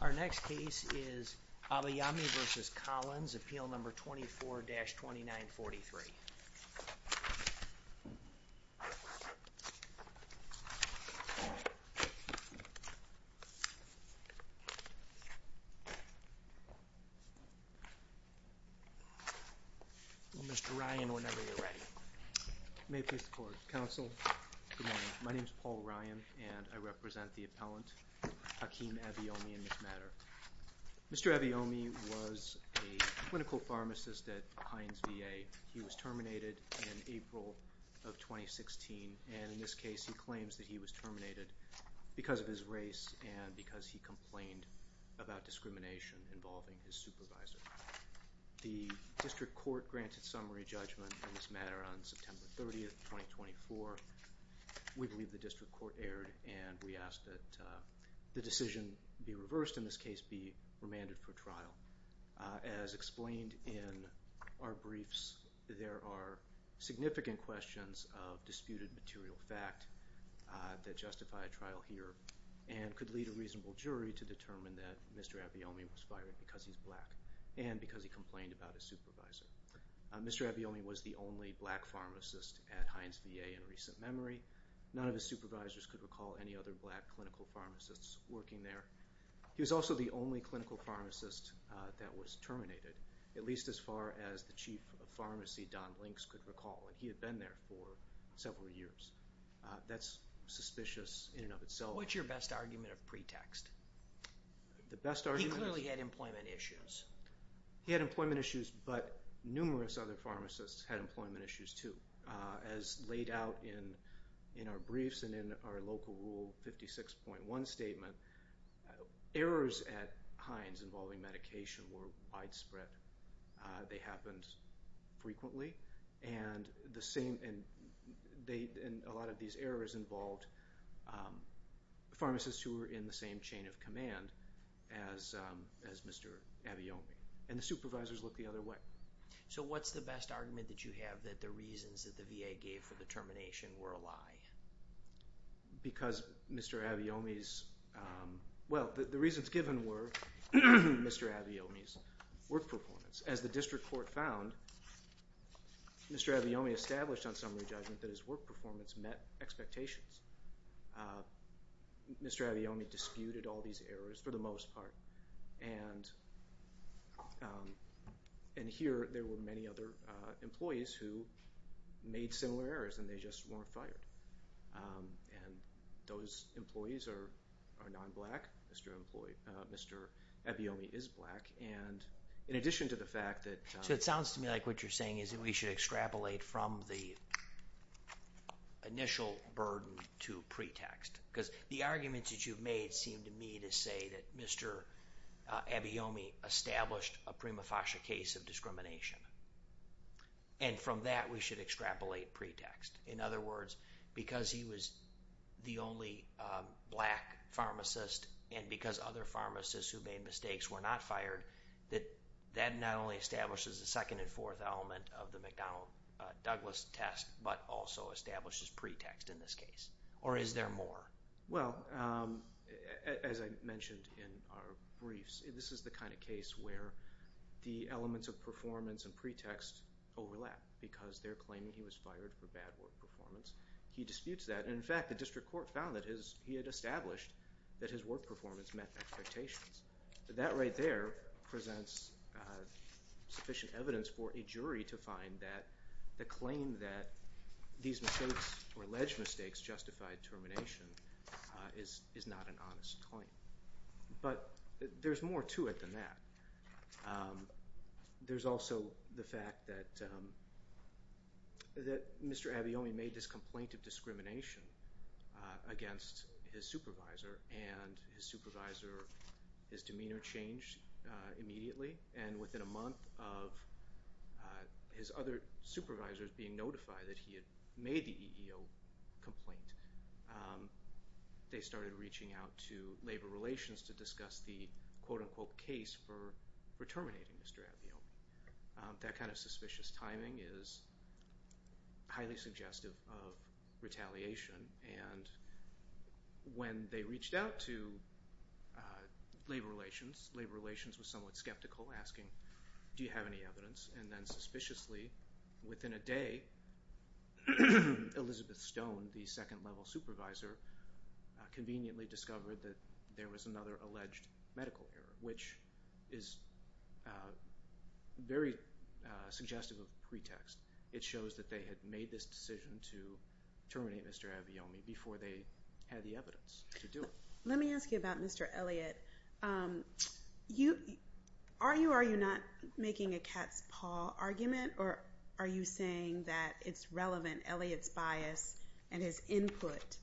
Our next case is Abayomi v. Collins, Appeal No. 24-2943. Mr. Ryan, whenever you're ready. May peace be upon you, counsel. Good morning. My name is Paul Ryan and I represent the appellant Hakeem Abayomi in this matter. Mr. Abayomi was a clinical pharmacist at Heinz VA. He was terminated in April of 2016 and in this case he claims that he was terminated because of his race and because he complained about discrimination involving his supervisor. The district court granted summary judgment in this matter on September 30, 2024. We believe the district court erred and we ask that the decision be reversed, in this case be remanded for trial. As explained in our briefs, there are significant questions of disputed material fact that justify a trial here and could lead a reasonable jury to determine that Mr. Abayomi was fired because he's black and because he complained about his supervisor. Mr. Abayomi was the only black pharmacist at Heinz VA in recent memory. None of his supervisors could recall any other black clinical pharmacists working there. He was also the only clinical pharmacist that was terminated, at least as far as the chief of pharmacy, Don Links, could recall and he had been there for several years. That's suspicious in and of itself. What's your best argument of pretext? The best argument is... He clearly had employment issues. He had employment issues, but numerous other pharmacists had employment issues too. As laid out in our briefs and in our local rule 56.1 statement, errors at Heinz involving medication were widespread. They happened frequently and a lot of these errors involved pharmacists who were in the same chain of command as Mr. Abayomi and the supervisors looked the other way. What's the best argument that you have that the reasons that the VA gave for the termination were a lie? Because Mr. Abayomi's... Well, the reasons given were Mr. Abayomi's work performance. As the district court found, Mr. Abayomi established on summary judgment that his work performance met expectations. Mr. Abayomi disputed all these errors, for the most part, and here there were many other employees who made similar errors and they just weren't fired. And those employees are non-black. Mr. Abayomi is black and in addition to the fact that... So it sounds to me like what you're saying is that we should extrapolate from the initial burden to pretext. Because the arguments that you've made seem to me to say that Mr. Abayomi established a prima facie case of discrimination. And from that we should extrapolate pretext. In other words, because he was the only black pharmacist and because other pharmacists who made mistakes were not fired, that that not only establishes the second and fourth element of the McDonnell-Douglas test, but also establishes pretext in this case. Or is there more? Well, as I mentioned in our briefs, this is the kind of case where the elements of performance and pretext overlap. Because they're claiming he was fired for bad work performance. He disputes that. In fact, the district court found that he had established that his work performance met expectations. That right there presents sufficient evidence for a jury to find that the claim that these mistakes or alleged mistakes justified termination is not an honest claim. But there's more to it than that. There's also the fact that Mr. Abayomi made this complaint of discrimination against his supervisor. And his supervisor, his demeanor changed immediately. And within a month of his other supervisors being notified that he had made the EEO complaint, they started reaching out to Labor Relations to discuss the quote-unquote case for terminating Mr. Abayomi. That kind of suspicious timing is highly suggestive of retaliation. And when they reached out to Labor Relations, Labor Relations was somewhat skeptical, asking, do you have any evidence? And then suspiciously, within a day, Elizabeth Stone, the second-level supervisor, conveniently discovered that there was another alleged medical error, which is very suggestive of pretext. It shows that they had made this decision to terminate Mr. Abayomi before they had the evidence to do it. Let me ask you about Mr. Elliott. Are you or are you not making a cat's paw argument, or are you saying that it's relevant, Elliott's bias and his input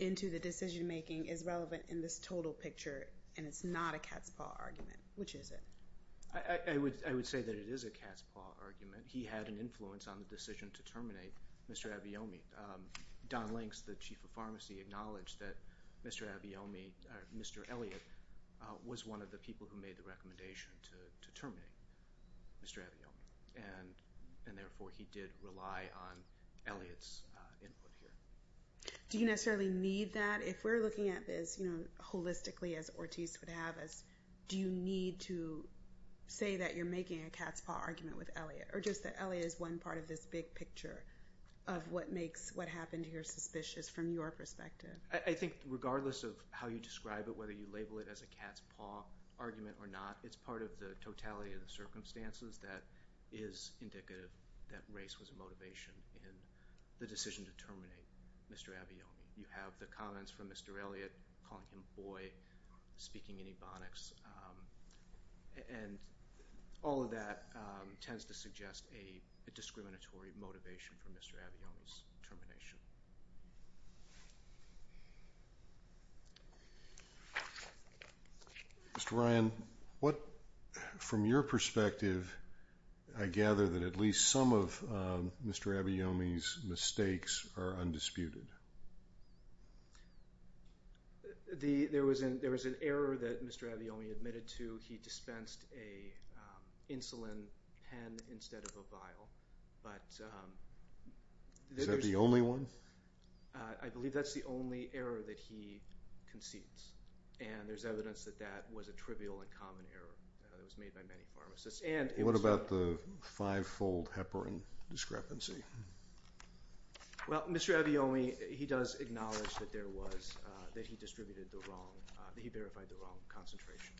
into the decision-making is relevant in this total picture and it's not a cat's paw argument? Which is it? I would say that it is a cat's paw argument. He had an influence on the decision to terminate Mr. Abayomi. Don Links, the chief of pharmacy, acknowledged that Mr. Abayomi, or Mr. Elliott, was one of the people who made the recommendation to terminate Mr. Abayomi, and therefore he did rely on Elliott's input here. Do you necessarily need that? If we're looking at this, you know, holistically, as Ortiz would have us, do you need to say that you're making a cat's paw argument with Elliott, or just that Elliott is one part of this big picture of what makes what happened here suspicious from your perspective? I think regardless of how you describe it, whether you label it as a cat's paw argument or not, it's part of the totality of the circumstances that is indicative that race was a motivation in the decision to terminate Mr. Abayomi. You have the comments from Mr. Elliott, calling him a boy, speaking in Ebonics, and all of that tends to suggest a discriminatory motivation for Mr. Abayomi's termination. Mr. Ryan, from your perspective, I gather that at least some of Mr. Abayomi's mistakes are undisputed. There was an error that Mr. Abayomi admitted to. He dispensed an insulin pen instead of a vial. Is that the only one? I believe that's the only error that he concedes, and there's evidence that that was a trivial and common error that was made by many pharmacists. What about the five-fold heparin discrepancy? Well, Mr. Abayomi, he does acknowledge that there was, that he distributed the wrong, that he verified the wrong concentration.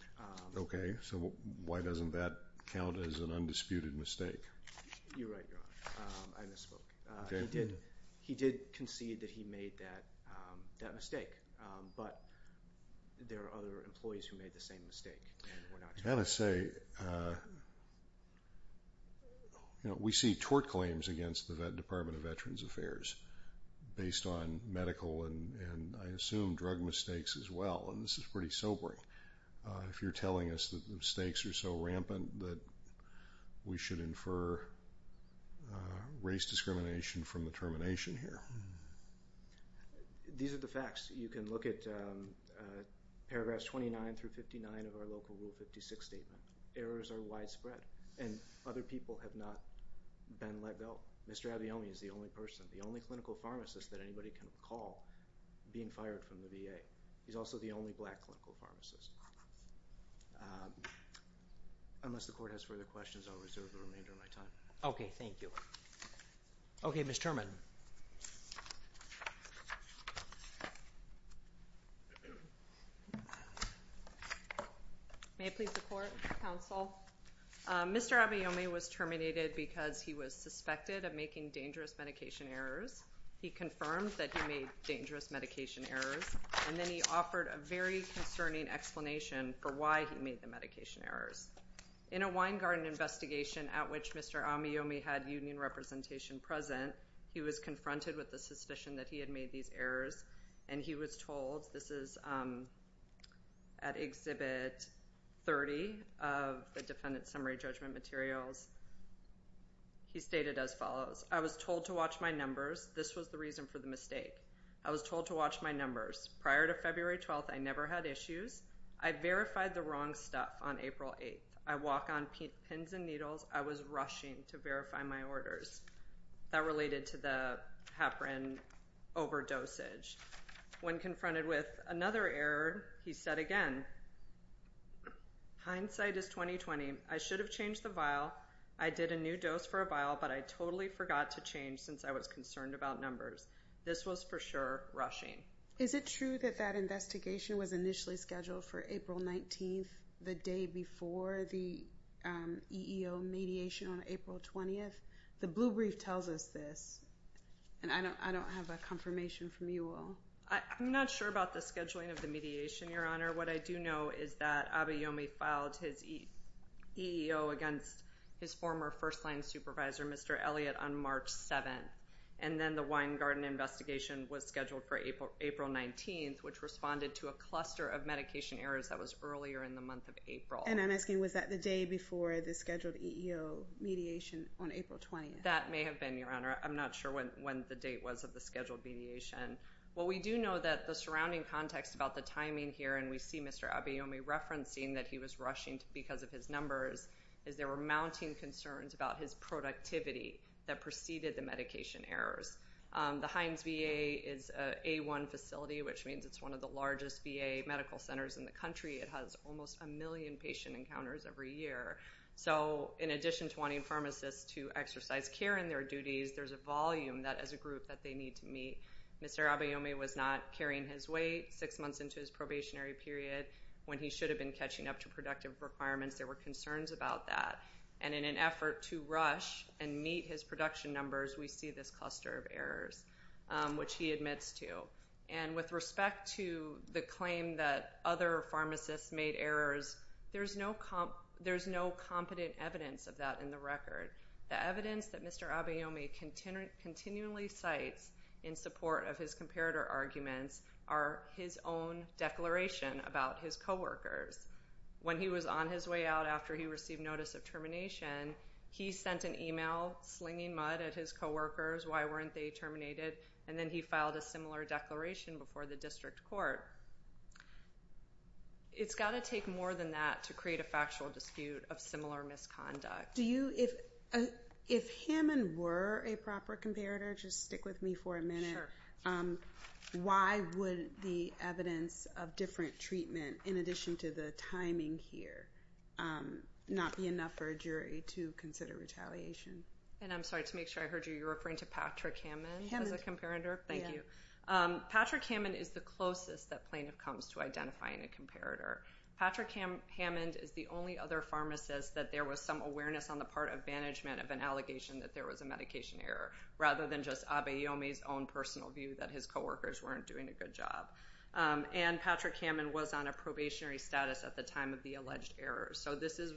Okay. So why doesn't that count as an undisputed mistake? You're right, Your Honor. I misspoke. Okay. He did concede that he made that mistake, but there are other employees who made the same mistake. I've got to say, you know, we see tort claims against the Vet Department of Veterans Affairs based on medical and I assume drug mistakes as well, and this is pretty sobering. If you're telling us that the mistakes are so rampant that we should infer race discrimination from the termination here. These are the facts. You can look at paragraphs 29 through 59 of our local Rule 56 statement. Errors are widespread, and other people have not been let go. Mr. Abayomi is the only person, the only clinical pharmacist that anybody can recall being fired from the VA. He's also the only black clinical pharmacist. Unless the Court has further questions, I'll reserve the remainder of my time. Okay. Thank you. Okay, Ms. Turman. May I please report, Counsel? Mr. Abayomi was terminated because he was suspected of making dangerous medication errors. He confirmed that he made dangerous medication errors, and then he offered a very concerning explanation for why he made the medication errors. In a Weingarten investigation at which Mr. Abayomi had union representation present, he was confronted with the suspicion that he had made these errors, and he was told, this is at Exhibit 30 of the Defendant Summary Judgment Materials, he stated as follows, I was told to watch my numbers. This was the reason for the mistake. I was told to watch my numbers. Prior to February 12th, I never had issues. I verified the wrong stuff on April 8th. I walk on pins and needles. I was rushing to verify my orders that related to the heparin overdosage. When confronted with another error, he said again, hindsight is 20-20. I should have changed the vial. I did a new dose for a vial, but I totally forgot to change since I was concerned about numbers. This was for sure rushing. Is it true that that investigation was initially scheduled for April 19th, the day before the EEO mediation on April 20th? The blue brief tells us this, and I don't have a confirmation from you all. I'm not sure about the scheduling of the mediation, Your Honor. What I do know is that Abayomi filed his EEO against his former first-line supervisor, Mr. Elliott, on March 7th, and then the Weingarten investigation was scheduled for April 19th, which responded to a cluster of medication errors that was earlier in the month of April. And I'm asking, was that the day before the scheduled EEO mediation on April 20th? That may have been, Your Honor. I'm not sure when the date was of the scheduled mediation. What we do know that the surrounding context about the timing here, and we see Mr. Abayomi referencing that he was rushing because of his numbers, is there were mounting concerns about his productivity that preceded the medication errors. The Heinz VA is an A1 facility, which means it's one of the largest VA medical centers in the country. It has almost a million patient encounters every year. So in addition to wanting pharmacists to exercise care in their duties, there's a volume that, as a group, that they need to meet. Mr. Abayomi was not carrying his weight six months into his probationary period when he should have been catching up to productive requirements. There were concerns about that. And in an effort to rush and meet his production numbers, we see this cluster of errors, which he admits to. And with respect to the claim that other pharmacists made errors, there's no competent evidence of that in the record. The evidence that Mr. Abayomi continually cites in support of his comparator arguments are his own declaration about his coworkers. When he was on his way out after he received notice of termination, he sent an email slinging mud at his coworkers. Why weren't they terminated? And then he filed a similar declaration before the district court. It's got to take more than that to create a factual dispute of similar misconduct. If him and were a proper comparator, just stick with me for a minute, why would the evidence of different treatment, in addition to the timing here, not be enough for a jury to consider retaliation? And I'm sorry, to make sure I heard you, you're referring to Patrick Hammond as a comparator? Thank you. Patrick Hammond is the closest that plaintiff comes to identifying a comparator. Patrick Hammond is the only other pharmacist that there was some awareness on the part of management of an allegation that there was a medication error, rather than just Abayomi's own personal view that his coworkers weren't doing a good job. And Patrick Hammond was on a probationary status at the time of the alleged error, so this is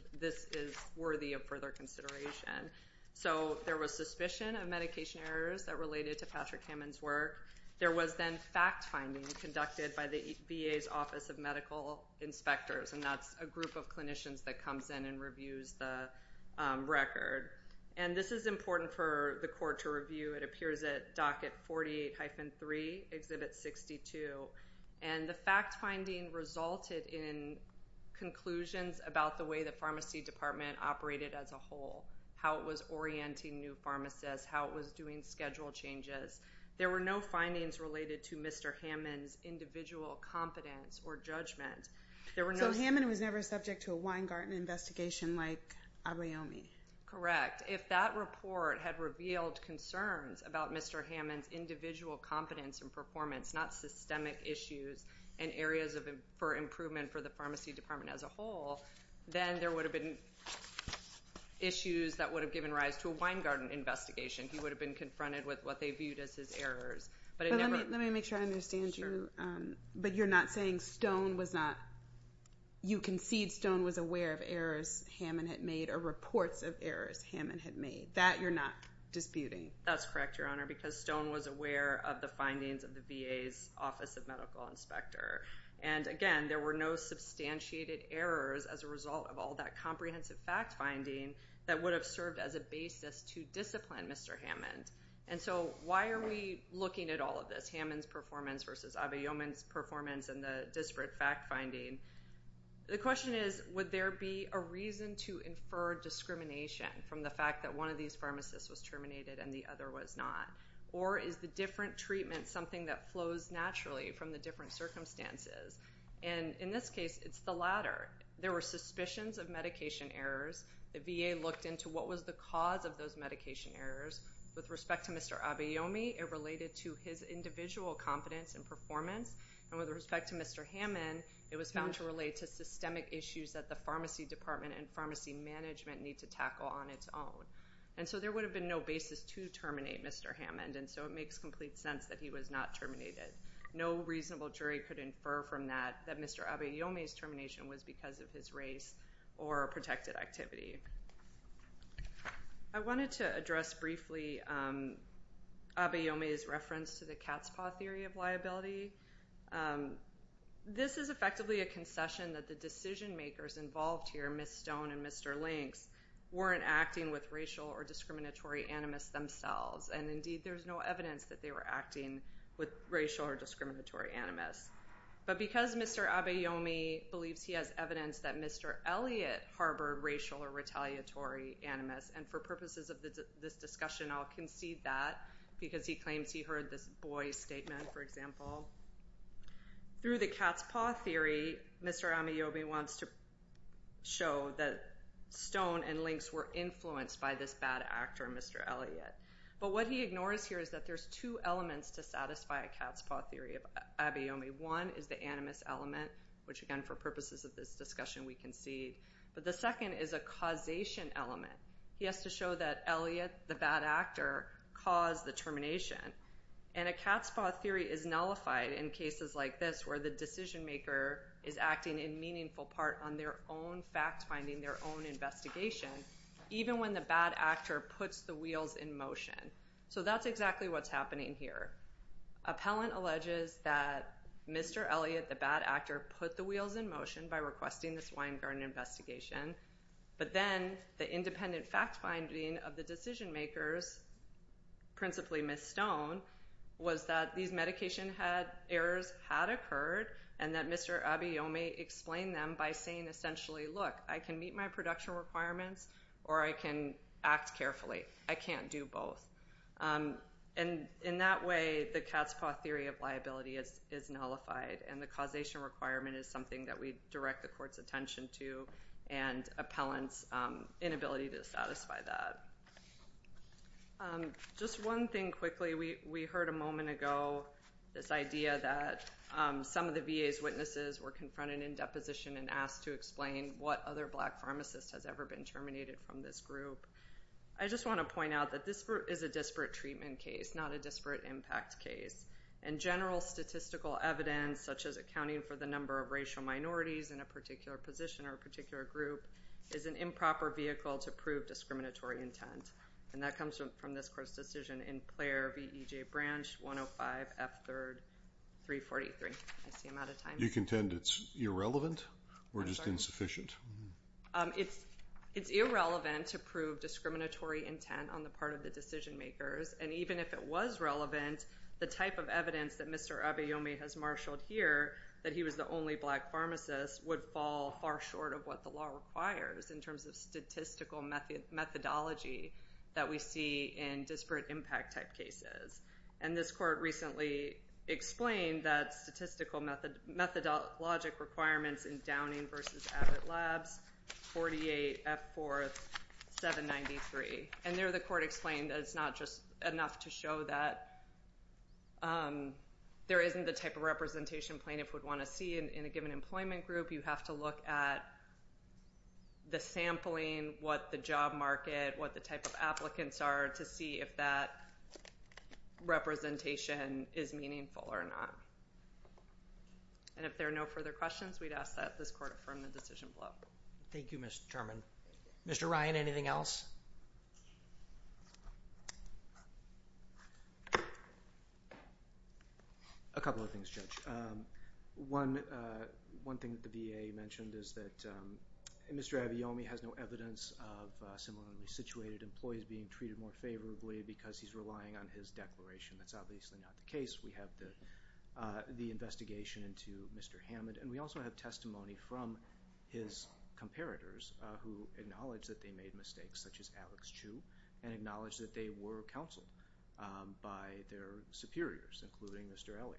worthy of further consideration. So there was suspicion of medication errors that related to Patrick Hammond's work. There was then fact-finding conducted by the VA's Office of Medical Inspectors, and that's a group of clinicians that comes in and reviews the record. And this is important for the court to review. It appears at Docket 48-3, Exhibit 62. And the fact-finding resulted in conclusions about the way the pharmacy department operated as a whole, how it was orienting new pharmacists, how it was doing schedule changes. There were no findings related to Mr. Hammond's individual competence or judgment. So Hammond was never subject to a Weingarten investigation like Abayomi? Correct. If that report had revealed concerns about Mr. Hammond's individual competence and performance, not systemic issues and areas for improvement for the pharmacy department as a whole, then there would have been issues that would have given rise to a Weingarten investigation. He would have been confronted with what they viewed as his errors. Let me make sure I understand you. But you're not saying Stone was not, you concede Stone was aware of errors Hammond had made or reports of errors Hammond had made? That you're not disputing? That's correct, Your Honor, because Stone was aware of the findings of the VA's Office of Medical Inspector. And, again, there were no substantiated errors as a result of all that comprehensive fact-finding that would have served as a basis to discipline Mr. Hammond. And so why are we looking at all of this, Hammond's performance versus Abayomi's performance and the disparate fact-finding? The question is, would there be a reason to infer discrimination from the fact that one of these pharmacists was terminated and the other was not? Or is the different treatment something that flows naturally from the different circumstances? And in this case, it's the latter. There were suspicions of medication errors. The VA looked into what was the cause of those medication errors. With respect to Mr. Abayomi, it related to his individual competence and performance. And with respect to Mr. Hammond, it was found to relate to systemic issues that the pharmacy department and pharmacy management need to tackle on its own. And so there would have been no basis to terminate Mr. Hammond, and so it makes complete sense that he was not terminated. No reasonable jury could infer from that that Mr. Abayomi's termination was because of his race or protected activity. I wanted to address briefly Abayomi's reference to the cat's paw theory of liability. This is effectively a concession that the decision-makers involved here, Ms. Stone and Mr. Links, weren't acting with racial or discriminatory animus themselves. And indeed, there's no evidence that they were acting with racial or discriminatory animus. But because Mr. Abayomi believes he has evidence that Mr. Elliot harbored racial or retaliatory animus, and for purposes of this discussion, I'll concede that, because he claims he heard this boy's statement, for example. Through the cat's paw theory, Mr. Abayomi wants to show that Stone and Links were influenced by this bad actor, Mr. Elliot. But what he ignores here is that there's two elements to satisfy a cat's paw theory of Abayomi. One is the animus element, which again, for purposes of this discussion, we concede. But the second is a causation element. He has to show that Elliot, the bad actor, caused the termination. And a cat's paw theory is nullified in cases like this, where the decision-maker is acting in meaningful part on their own fact-finding, their own investigation, even when the bad actor puts the wheels in motion. So that's exactly what's happening here. Appellant alleges that Mr. Elliot, the bad actor, put the wheels in motion by requesting this wine garden investigation. But then the independent fact-finding of the decision-makers, principally Ms. Stone, was that these medication errors had occurred, and that Mr. Abayomi explained them by saying, essentially, look, I can meet my production requirements, or I can act carefully. I can't do both. And in that way, the cat's paw theory of liability is nullified, and the causation requirement is something that we direct the court's attention to, and appellant's inability to satisfy that. Just one thing quickly. We heard a moment ago this idea that some of the VA's witnesses were confronted in deposition and asked to explain what other black pharmacist has ever been terminated from this group. I just want to point out that this is a disparate treatment case, not a disparate impact case. And general statistical evidence, such as accounting for the number of racial minorities in a particular position or a particular group, is an improper vehicle to prove discriminatory intent. And that comes from this court's decision in Player V. E. J. Branch, 105 F. 3rd, 343. I see I'm out of time. You contend it's irrelevant or just insufficient? It's irrelevant to prove discriminatory intent on the part of the decision-makers. And even if it was relevant, the type of evidence that Mr. Abayomi has marshaled here, that he was the only black pharmacist, would fall far short of what the law requires in terms of statistical methodology that we see in disparate impact type cases. And this court recently explained that statistical methodologic requirements in Downing v. Abbott Labs, 48 F. 4th, 793. And there the court explained that it's not just enough to show that there isn't the type of representation plaintiffs would want to see in a given employment group. You have to look at the sampling, what the job market, what the type of applicants are, to see if that representation is meaningful or not. And if there are no further questions, we'd ask that this court affirm the decision below. Thank you, Ms. German. Mr. Ryan, anything else? A couple of things, Judge. One thing that the VA mentioned is that Mr. Abayomi has no evidence of similarly situated employees being treated more favorably because he's relying on his declaration. That's obviously not the case. We have the investigation into Mr. Hammond, and we also have testimony from his comparators who acknowledge that they made mistakes, such as Alex Chu, and acknowledge that they were counseled by their superiors, including Mr. Elliott.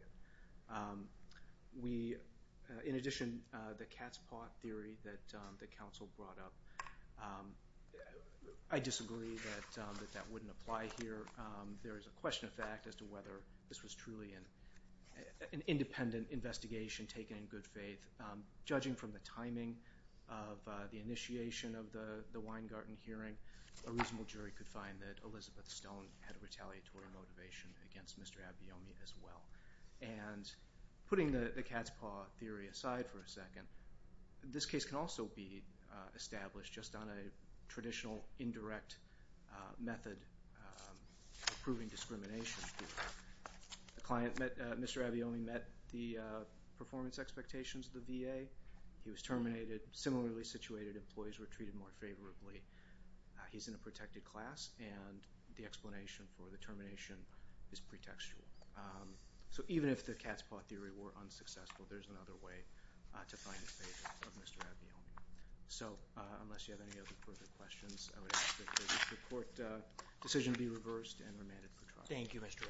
In addition, the cat's paw theory that the counsel brought up, I disagree that that wouldn't apply here. There is a question of fact as to whether this was truly an independent investigation taken in good faith. Judging from the timing of the initiation of the Weingarten hearing, a reasonable jury could find that Elizabeth Stone had a retaliatory motivation against Mr. Abayomi as well. And putting the cat's paw theory aside for a second, this case can also be established just on a traditional indirect method of proving discrimination. The client, Mr. Abayomi, met the performance expectations of the VA. He was terminated. Similarly situated employees were treated more favorably. He's in a protected class, and the explanation for the termination is pretextual. So even if the cat's paw theory were unsuccessful, there's another way to find favor of Mr. Abayomi. So unless you have any other further questions, I would ask that the court decision be reversed and remanded for trial. Thank you, Mr.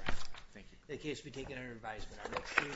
Wright. The case will be taken under advisement.